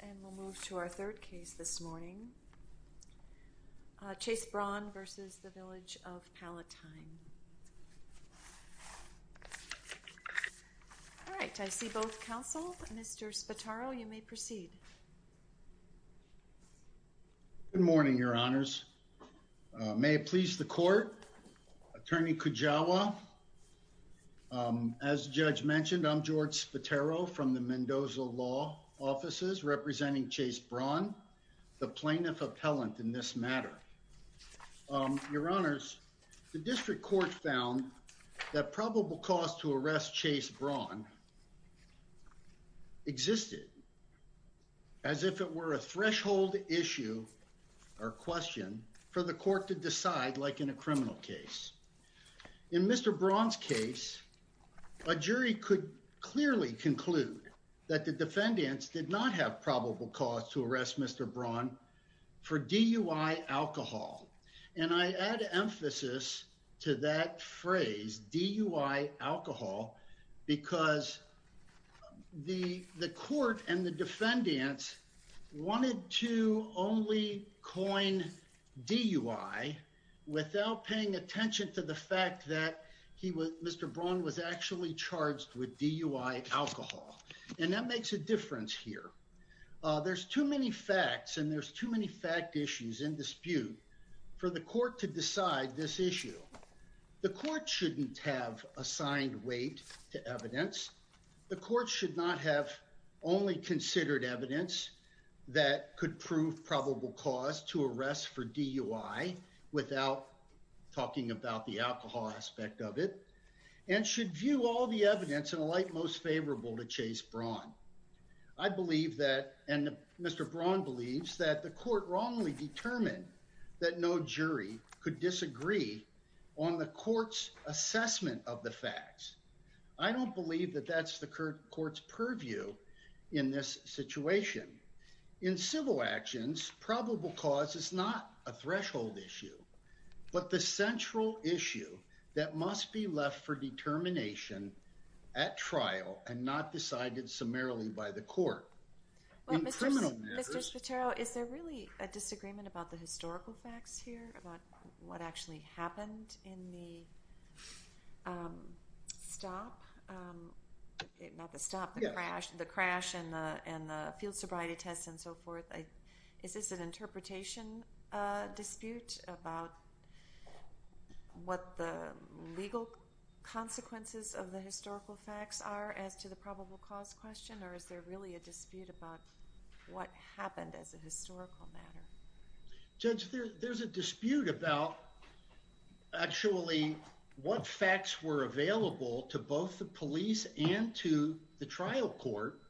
and we'll move to our third case this morning. Chase Braun v. Village of Palatine. All right, I see both counseled. Mr. Spataro, you may proceed. Good morning, your honors. May it please the court. Attorney Kujawa, as the judge mentioned, I'm George Spataro from the Mendoza Law Offices, representing Chase Braun, the plaintiff appellant in this matter. Your honors, the district court found that probable cause to arrest Chase Braun existed as if it were a threshold issue or question for the court to decide like in a criminal case. In Mr. Braun's case, a jury could clearly conclude that the defendants did not have probable cause to arrest Mr. Braun for DUI alcohol. And I add emphasis to that phrase, DUI alcohol, because the court and the defendants wanted to only coin DUI without paying attention to the fact that Mr. Braun was actually charged with DUI alcohol. And that makes a difference here. There's too many facts and there's too many fact issues in dispute for the court to decide this issue. The court shouldn't have assigned weight to evidence. The court should not have only considered evidence that could prove probable cause to arrest for DUI without talking about the alcohol aspect of it and should view all the evidence in a light most favorable to Chase Braun. I believe that, and Mr. Braun believes that the court wrongly determined that no jury could disagree on the court's assessment of the facts. I don't believe that that's the court's purview in this situation. In civil actions, probable cause is not a threshold issue, but the central issue that must be left for determination at trial and not decided summarily by the court. In criminal matters- Well, Mr. Spatero, is there really a disagreement about the historical facts here, about what actually happened in the stop? Not the stop, the crash. And the field sobriety test and so forth. Is this an interpretation dispute about what the legal consequences of the historical facts are as to the probable cause question? Or is there really a dispute about what happened as a historical matter? Judge, there's a dispute about actually what facts were available to both the police and to the trial court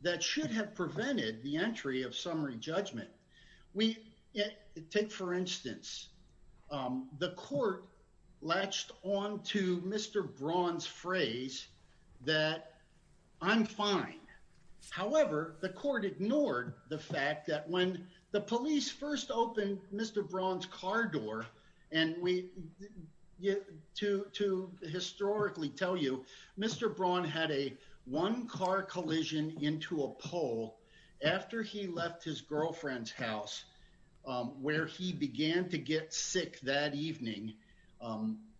that should have prevented the entry of summary judgment. We take, for instance, the court latched onto Mr. Braun's phrase that I'm fine. However, the court ignored the fact that when the police first opened Mr. Braun's car door, and to historically tell you, Mr. Braun had a one car collision into a pole after he left his girlfriend's house where he began to get sick that evening.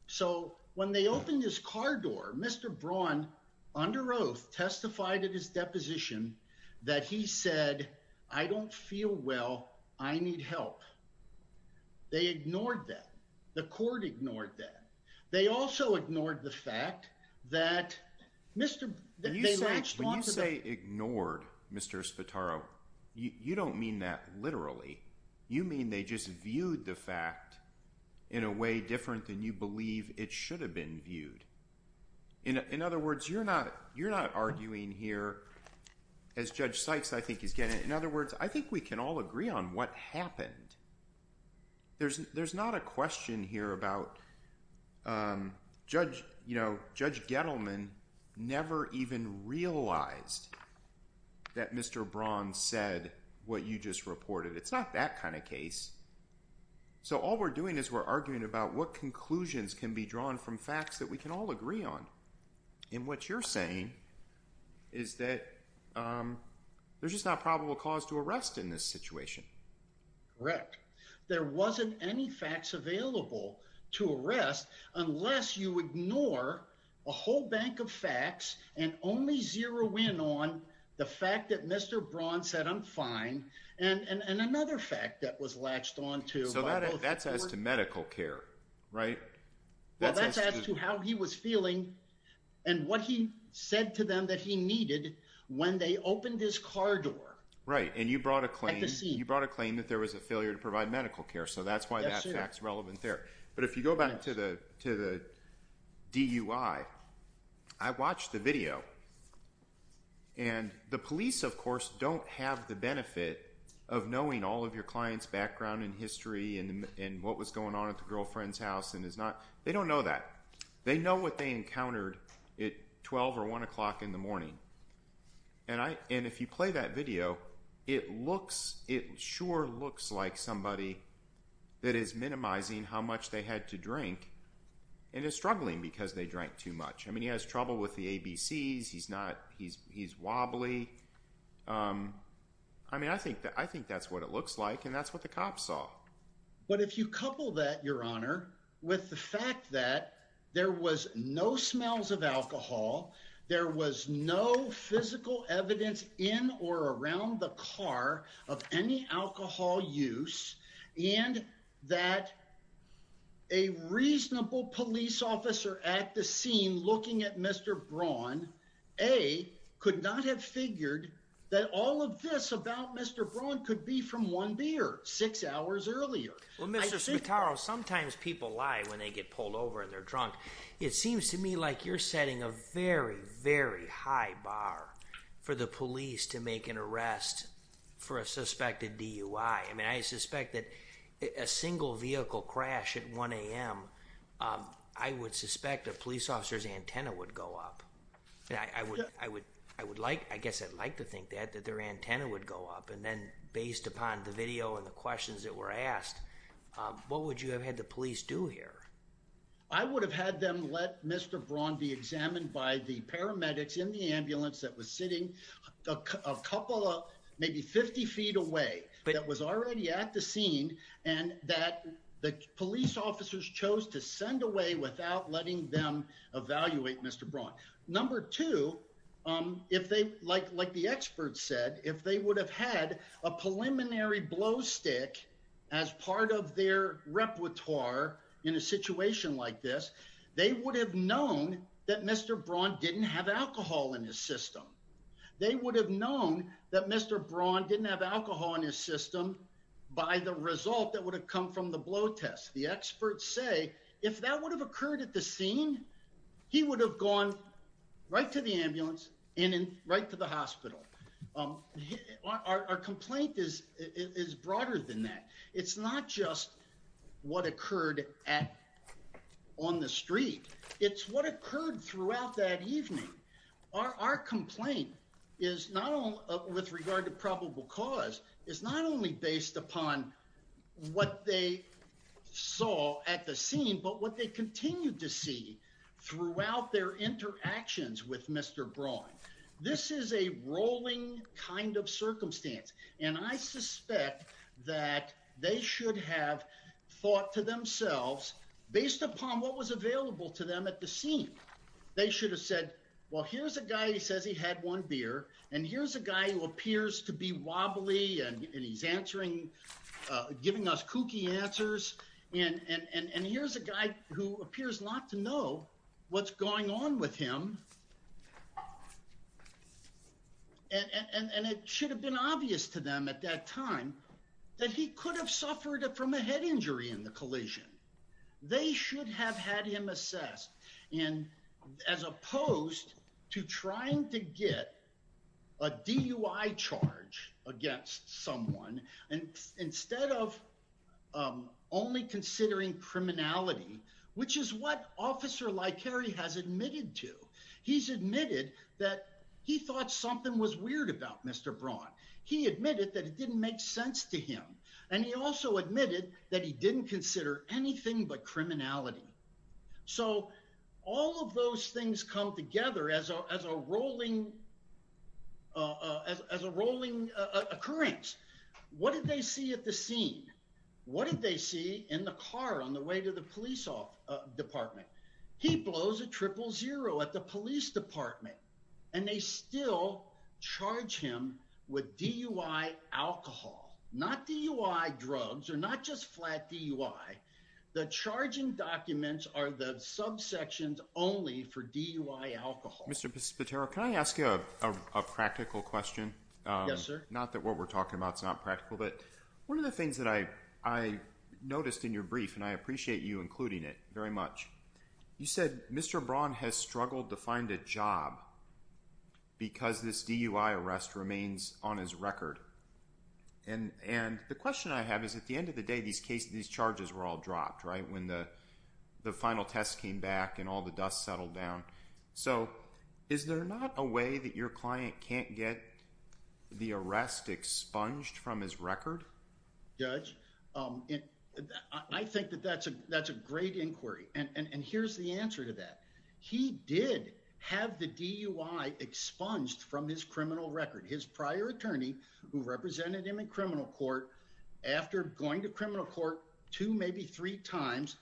So when they opened his car door, Mr. Braun, under oath, testified at his deposition that he said, I don't feel well, I need help. They ignored that. The court ignored that. They also ignored the fact that they latched onto the- When you say ignored, Mr. Espitaro, you don't mean that literally. You mean they just viewed the fact in a way different than you believe it should have been viewed. In other words, you're not arguing here, as Judge Sykes, I think he's getting. In other words, I think we can all agree on what happened. There's not a question here about, Judge Gettleman never even realized that Mr. Braun said what you just reported. It's not that kind of case. So all we're doing is we're arguing about what conclusions can be drawn from facts that we can all agree on. And what you're saying is that there's just not probable cause to arrest in this situation. Correct. There wasn't any facts available to arrest unless you ignore a whole bank of facts and only zero in on the fact that Mr. Braun said, I'm fine. And another fact that was latched onto- So that's as to medical care, right? Well, that's as to how he was feeling and what he said to them that he needed when they opened his car door. Right, and you brought a claim. You brought a claim that there was a failure to provide medical care. So that's why that fact's relevant there. But if you go back to the DUI, I watched the video. And the police, of course, don't have the benefit of knowing all of your client's background and history and what was going on at the girlfriend's house. They don't know that. They know what they encountered at 12 or one o'clock in the morning. And if you play that video, it sure looks like somebody that is minimizing how much they had to drink and is struggling because they drank too much. I mean, he has trouble with the ABCs. He's wobbly. I mean, I think that's what it looks like and that's what the cops saw. But if you couple that, Your Honor, with the fact that there was no smells of alcohol, there was no physical evidence in or around the car of any alcohol use, and that a reasonable police officer at the scene looking at Mr. Braun, A, could not have figured that all of this about Mr. Braun could be from one beer six hours earlier. Well, Mr. Smetaro, sometimes people lie when they get pulled over and they're drunk. It seems to me like you're setting a very, very high bar for the police to make an arrest for a suspected DUI. I mean, I suspect that a single vehicle crash at 1 a.m., I would suspect a police officer's antenna would go up. I guess I'd like to think that, that their antenna would go up. And then based upon the video and the questions that were asked, what would you have had the police do here? I would have had them let Mr. Braun be examined by the paramedics in the ambulance that was sitting a couple of, maybe 50 feet away, that was already at the scene, and that the police officers chose to send away without letting them evaluate Mr. Braun. Number two, like the experts said, if they would have had a preliminary blow stick as part of their repertoire in a situation like this, they would have known that Mr. Braun didn't have alcohol in his system. They would have known that Mr. Braun didn't have alcohol in his system by the result that would have come from the blow test. The experts say, if that would have occurred at the scene, he would have gone right to the ambulance and then right to the hospital. Our complaint is broader than that. It's not just what occurred on the street. It's what occurred throughout that evening. Our complaint is not only with regard to probable cause, it's not only based upon what they saw at the scene, but what they continued to see throughout their interactions with Mr. Braun. This is a rolling kind of circumstance, and I suspect that they should have thought to themselves based upon what was available to them at the scene. They should have said, well, here's a guy who says he had one beer, and here's a guy who appears to be wobbly, and he's giving us kooky answers, and here's a guy who appears not to know what's going on with him. And it should have been obvious to them at that time that he could have suffered from a head injury in the collision. They should have had him assessed, and as opposed to trying to get a DUI charge against someone, and instead of only considering criminality, which is what Officer Lykeri has admitted to. He's admitted that he thought something was weird about Mr. Braun. He admitted that it didn't make sense to him, and he also admitted that he didn't consider anything but criminality. So all of those things come together as a rolling occurrence. What did they see at the scene? What did they see in the car on the way to the police department? He blows a triple zero at the police department, and they still charge him with DUI alcohol. Not DUI drugs, or not just flat DUI. The charging documents are the subsections only for DUI alcohol. Mr. Patero, can I ask you a practical question? Yes, sir. Not that what we're talking about's not practical, but one of the things that I noticed in your brief, and I appreciate you including it very much, you said Mr. Braun has struggled to find a job because this DUI arrest remains on his record. And the question I have is at the end of the day, these charges were all dropped, right, when the final test came back and all the dust settled down. So is there not a way that your client can't get the arrest expunged from his record? Judge, I think that that's a great inquiry. And here's the answer to that. He did have the DUI expunged from his criminal record. His prior attorney who represented him in criminal court after going to criminal court two, maybe three times,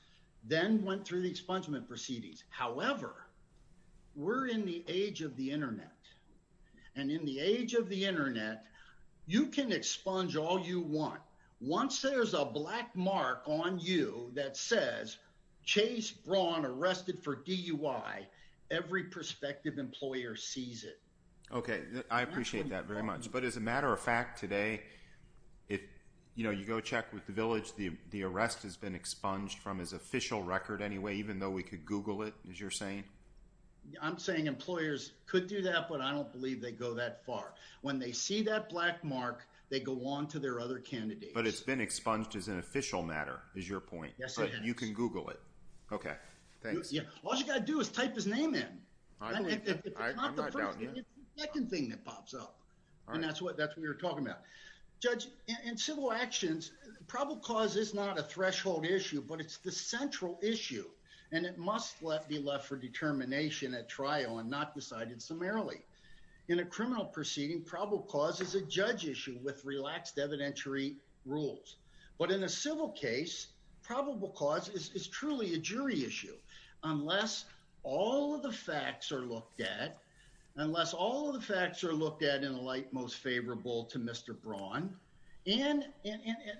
then went through the expungement proceedings. However, we're in the age of the internet. And in the age of the internet, you can expunge all you want. Once there's a black mark on you that says, Chase Braun arrested for DUI, every prospective employer sees it. Okay, I appreciate that very much. But as a matter of fact today, if you go check with the village, the arrest has been expunged from his official record anyway even though we could Google it, as you're saying? I'm saying employers could do that, but I don't believe they go that far. When they see that black mark, they go on to their other candidates. But it's been expunged as an official matter, is your point? Yes, it is. But you can Google it. Okay, thanks. All you gotta do is type his name in. I believe that. I'm not doubting that. If it's not the first thing, it's the second thing that pops up. All right. And that's what we were talking about. Judge, in civil actions, probable cause is not a threshold issue, but it's the central issue. And it must be left for determination at trial and not decided summarily. In a criminal proceeding, probable cause is a judge issue with relaxed evidentiary rules. But in a civil case, probable cause is truly a jury issue unless all of the facts are looked at, unless all of the facts are looked at in a light most favorable to Mr. Braun, and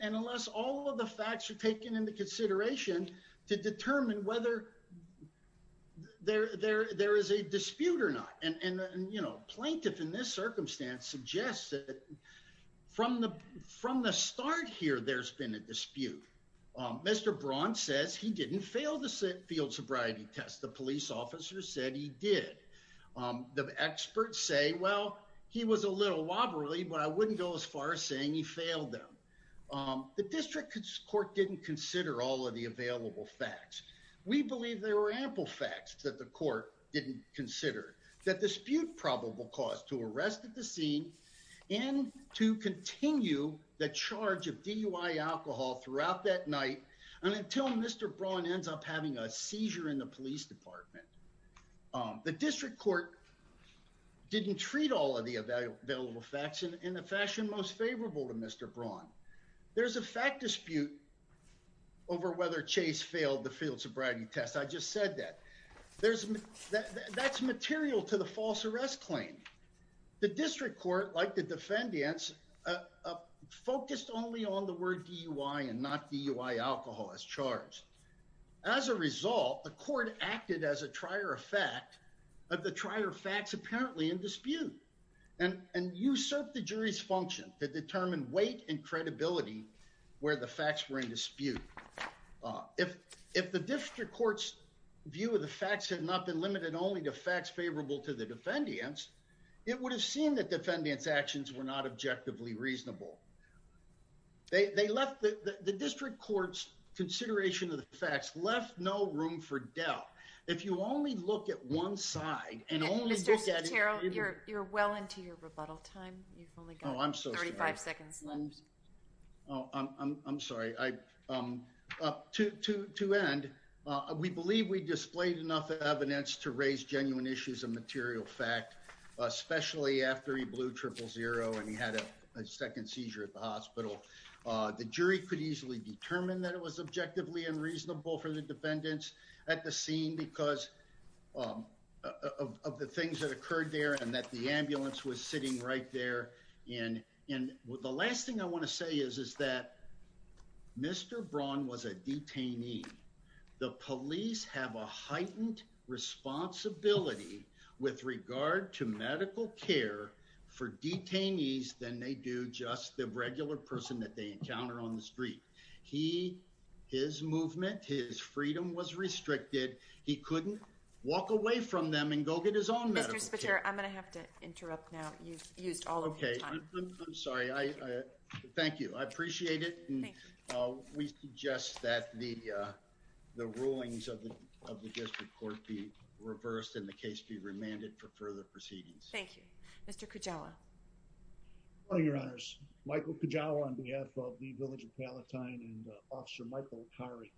unless all of the facts are taken into consideration to determine whether there is a dispute or not and, you know, plaintiff in this circumstance suggests that from the start here, there's been a dispute. Mr. Braun says he didn't fail the field sobriety test. The police officer said he did. The experts say, well, he was a little wobbly, but I wouldn't go as far as saying he failed them. The district court didn't consider all of the available facts. We believe there were ample facts that the court didn't consider, that dispute probable cause to arrest at the scene and to continue the charge of DUI alcohol throughout that night, and until Mr. Braun ends up having a seizure in the police department. The district court didn't treat all of the available facts in a fashion most favorable to Mr. Braun. There's a fact dispute over whether Chase failed the field sobriety test. I just said that. There's, that's material to the false arrest claim. The district court, like the defendants, focused only on the word DUI and not DUI alcohol as charged. As a result, the court acted as a trier of fact, of the trier of facts apparently in dispute and usurped the jury's function to determine weight and credibility where the facts were in dispute. If the district court's view of the facts had not been limited only to facts favorable to the defendants, it would have seemed that defendants' actions were not objectively reasonable. They left, the district court's consideration of the facts left no room for doubt. If you only look at one side and only- Mr. Sotero, you're well into your rebuttal time. You've only got 35 seconds left. Oh, I'm sorry. I, to end, we believe we displayed enough evidence to raise genuine issues of material fact, especially after he blew triple zero and he had a second seizure at the hospital. The jury could easily determine that it was objectively unreasonable for the defendants at the scene because of the things that occurred there and that the ambulance was sitting right there. And the last thing I wanna say is, is that Mr. Braun was a detainee. The police have a heightened responsibility with regard to medical care for detainees than they do just the regular person that they encounter on the street. He, his movement, his freedom was restricted. He couldn't walk away from them and go get his own medical care. Mr. Sotero, I'm gonna have to interrupt now. You've used all of your time. Okay, I'm sorry. I, thank you. I appreciate it. And we suggest that the, the rulings of the district court be reversed and the case be remanded for further proceedings. Thank you. Mr. Kujawa. Your honors, Michael Kujawa on behalf of the village of Palatine and officer Michael Akari.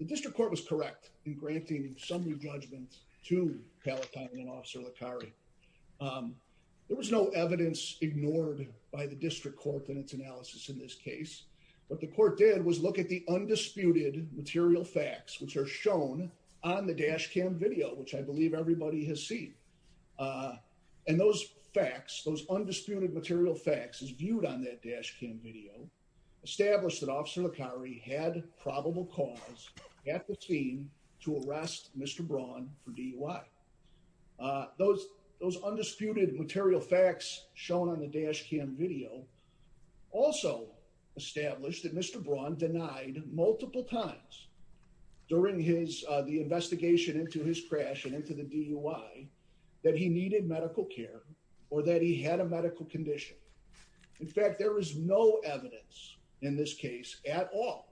The district court was correct in granting some new judgments to Palatine and officer Akari. There was no evidence ignored by the district court in its analysis in this case. What the court did was look at the undisputed material facts which are shown on the dash cam video which I believe everybody has seen. And those facts, those undisputed material facts is viewed on that dash cam video established that officer Akari had probable cause at the scene to arrest Mr. Braun for DUI. Those, those undisputed material facts shown on the dash cam video also established that Mr. Braun denied multiple times during his the investigation into his crash and into the DUI that he needed medical care or that he had a medical condition. In fact, there was no evidence in this case at all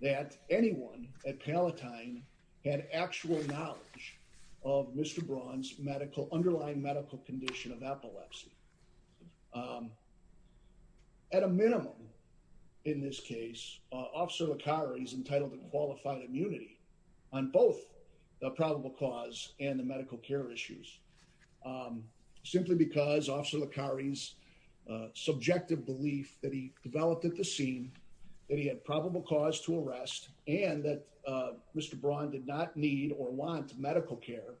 that anyone at Palatine had actual knowledge of Mr. Braun's medical underlying medical condition of epilepsy. At a minimum in this case, officer Akari is entitled to qualified immunity on both the probable cause and the medical care issues simply because officer Akari's subjective belief that he had probable cause to arrest and that Mr. Braun did not need or want medical care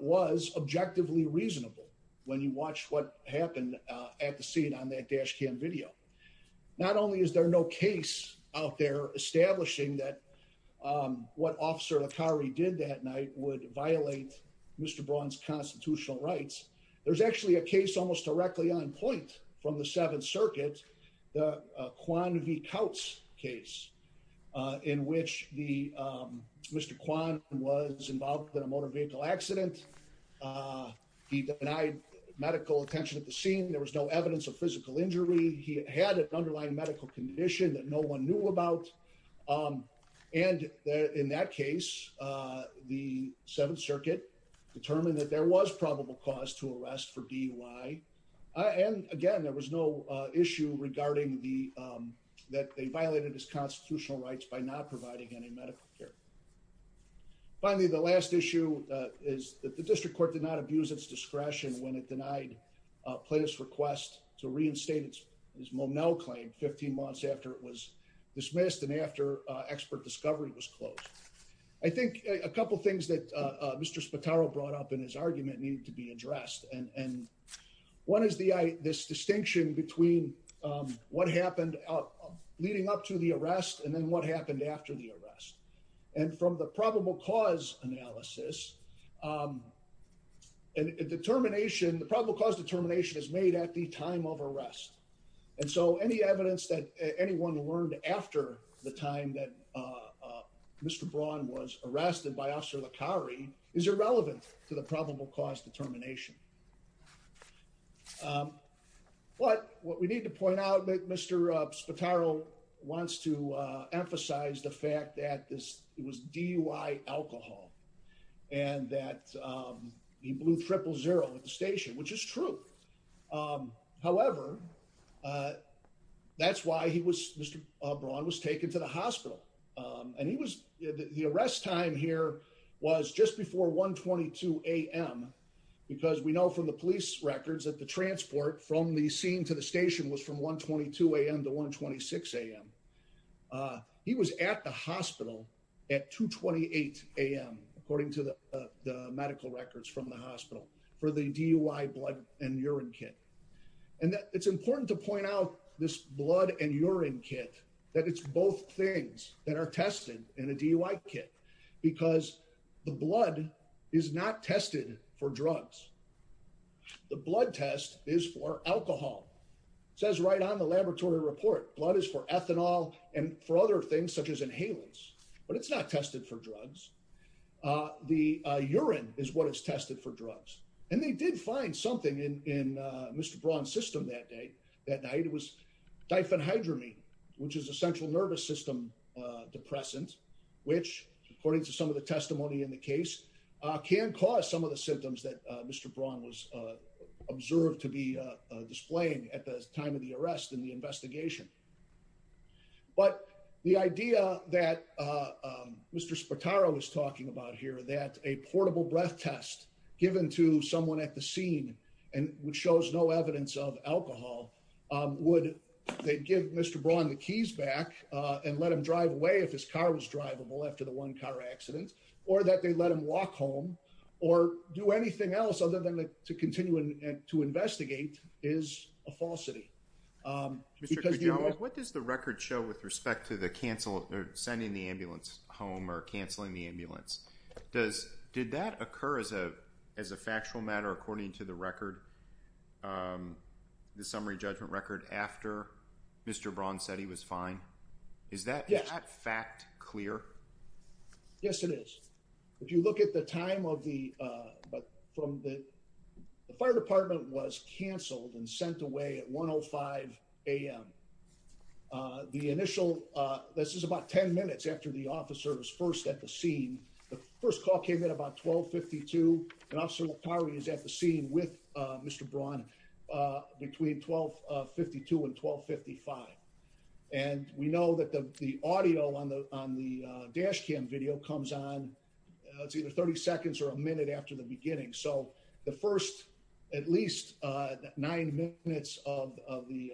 was objectively reasonable when you watch what happened at the scene on that dash cam video. Not only is there no case out there establishing that what officer Akari did that night would violate Mr. Braun's constitutional rights. There's actually a case almost directly on point from the seventh circuit, the Quan V. Kautz case in which Mr. Quan was involved in a motor vehicle accident. He denied medical attention at the scene. There was no evidence of physical injury. He had an underlying medical condition that no one knew about. And in that case, the seventh circuit determined that there was probable cause to arrest for DUI. And again, there was no issue regarding that they violated his constitutional rights by not providing any medical care. Finally, the last issue is that the district court did not abuse its discretion when it denied plaintiff's request to reinstate his Monell claim 15 months after it was dismissed and after expert discovery was closed. I think a couple of things that Mr. Spataro brought up in his argument needed to be addressed. And one is this distinction between what happened leading up to the arrest and then what happened after the arrest. And from the probable cause analysis, and determination, the probable cause determination is made at the time of arrest. And so any evidence that anyone learned after the time that Mr. Braun was arrested by Officer Licari is irrelevant to the probable cause determination. But what we need to point out, Mr. Spataro wants to emphasize the fact that this was DUI alcohol and that he blew triple zero at the station, which is true. However, that's why he was, Mr. Braun, was taken to the hospital. And he was, the arrest time here was just before 1.22 a.m. Because we know from the police records that the transport from the scene to the station was from 1.22 a.m. to 1.26 a.m. He was at the hospital at 2.28 a.m., according to the medical records from the hospital for the DUI blood and urine kit. And it's important to point out this blood and urine kit that it's both things that are tested in a DUI kit because the blood is not tested for drugs. The blood test is for alcohol. It says right on the laboratory report, blood is for ethanol and for other things such as inhalants, but it's not tested for drugs. The urine is what is tested for drugs. And they did find something in Mr. Braun's system that night. It was diphenhydramine, which is a central nervous system depressant, which according to some of the testimony in the case, can cause some of the symptoms that Mr. Braun was observed to be displaying at the time of the arrest in the investigation. But the idea that Mr. Spataro was talking about here, that a portable breath test given to someone at the scene, and which shows no evidence of alcohol, would they give Mr. Braun the keys back and let him drive away if his car was drivable after the one car accident, or that they let him walk home or do anything else other than to continue to investigate is a falsity. Mr. Kujawa, what does the record show with respect to sending the ambulance home or canceling the ambulance? Did that occur as a factual matter according to the summary judgment record after Mr. Braun said he was fine? Is that fact clear? Yes, it is. If you look at the time of the, but from the, the fire department was canceled and sent away at 1.05 a.m. The initial, this is about 10 minutes after the officer was first at the scene. The first call came in about 12.52, and Officer Lopari is at the scene with Mr. Braun between 12.52 and 12.55. And we know that the audio on the dash cam video comes on, it's either 30 seconds or a minute after the beginning. So the first, at least nine minutes of the,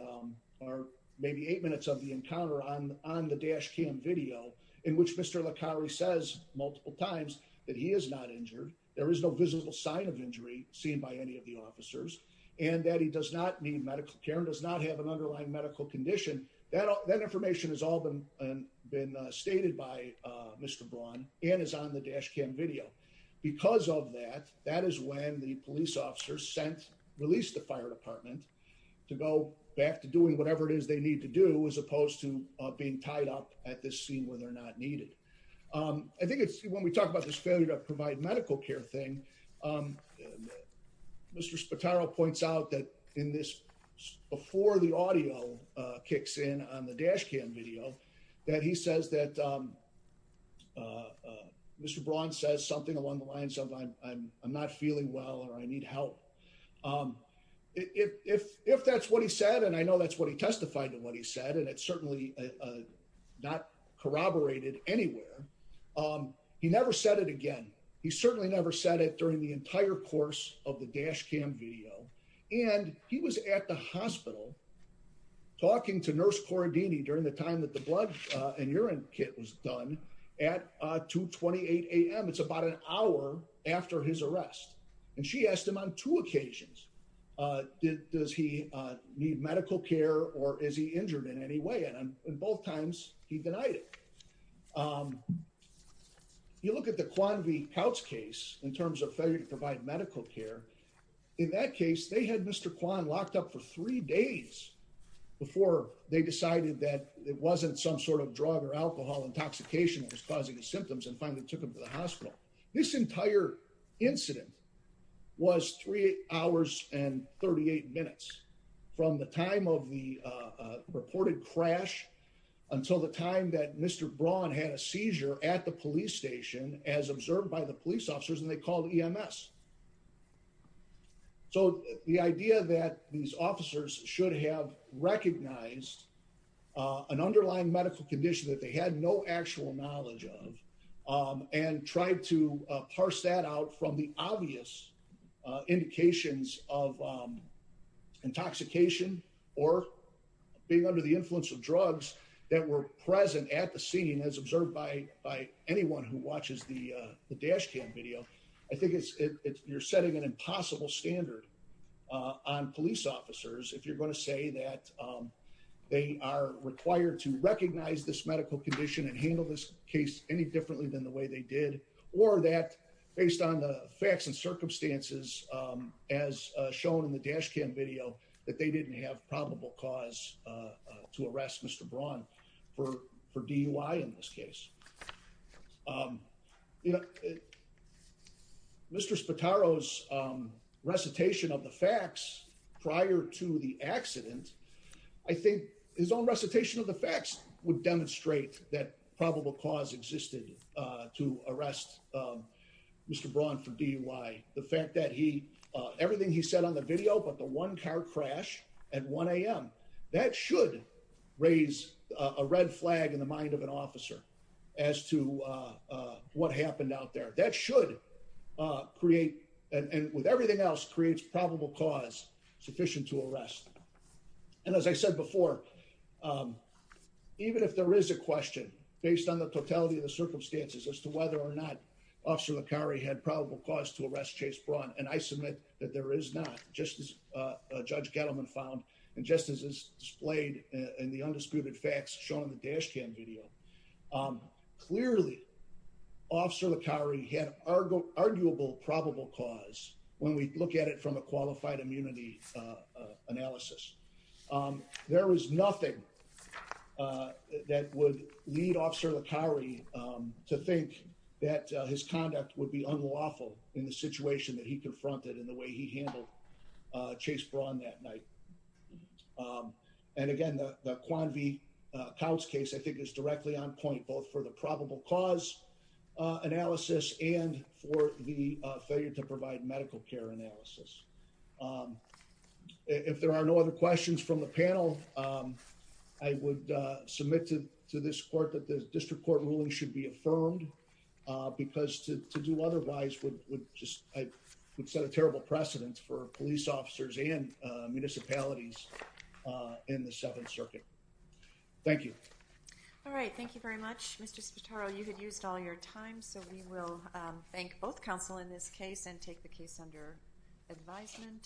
or maybe eight minutes of the encounter on the dash cam video, in which Mr. Lopari says multiple times that he is not injured, there is no visible sign of injury seen by any of the officers, and that he does not need medical care and does not have an underlying medical condition. That information has all been stated by Mr. Braun and is on the dash cam video. Because of that, that is when the police officer sent, released the fire department to go back to doing whatever it is they need to do as opposed to being tied up at this scene where they're not needed. I think it's, when we talk about this failure to provide medical care thing, Mr. Spataro points out that in this, before the audio kicks in on the dash cam video, that he says that Mr. Braun says something along the lines of I'm not feeling well or I need help. If that's what he said, and I know that's what he testified to what he said, and it's certainly not corroborated anywhere, he never said it again. He certainly never said it during the entire course of the dash cam video. And he was at the hospital talking to nurse Corradini during the time that the blood and urine kit was done at 2.28 a.m. It's about an hour after his arrest. And she asked him on two occasions, does he need medical care or is he injured in any way? And on both times, he denied it. You look at the Quan V. Pouch case in terms of failure to provide medical care. In that case, they had Mr. Quan locked up for three days before they decided that it wasn't some sort of drug or alcohol intoxication that was causing the symptoms and finally took him to the hospital. This entire incident was three hours and 38 minutes from the time of the reported crash until the time that Mr. Braun had a seizure at the police station as observed by the police officers and they called EMS. So the idea that these officers should have recognized an underlying medical condition that they had no actual knowledge of and tried to parse that out from the obvious indications of intoxication or being under the influence of drugs that were present at the scene as observed by anyone who watches the dash cam video. I think you're setting an impossible standard on police officers if you're gonna say that they are required to recognize this medical condition and handle this case any differently than the way they did or that based on the facts and circumstances as shown in the dash cam video that they didn't have probable cause to arrest Mr. Braun for DUI in this case. Mr. Spataro's recitation of the facts prior to the accident, I think his own recitation of the facts would demonstrate that probable cause existed to arrest Mr. Braun for DUI. The fact that everything he said on the video about the one car crash at 1 a.m., that should raise a red flag in the mind of an officer as to what happened out there. That should create, and with everything else, creates probable cause sufficient to arrest. And as I said before, even if there is a question based on the totality of the circumstances as to whether or not Officer Licari had probable cause to arrest Chase Braun, and I submit that there is not, just as Judge Gettleman found, and just as is displayed in the undisputed facts shown in the dash cam video. Clearly, Officer Licari had arguable probable cause when we look at it from a qualified immunity analysis. There was nothing that would lead Officer Licari to think that his conduct would be unlawful in the situation that he confronted and the way he handled Chase Braun that night. And again, the Quan V. Kautz case, I think is directly on point, both for the probable cause analysis and for the failure to provide medical care analysis. If there are no other questions from the panel, I would submit to this court that the district court ruling should be affirmed because to do otherwise would set a terrible precedent for police officers and municipalities in the Seventh Circuit. Thank you. All right, thank you very much. Mr. Spataro, you had used all your time, so we will thank both counsel in this case and take the case under advisement.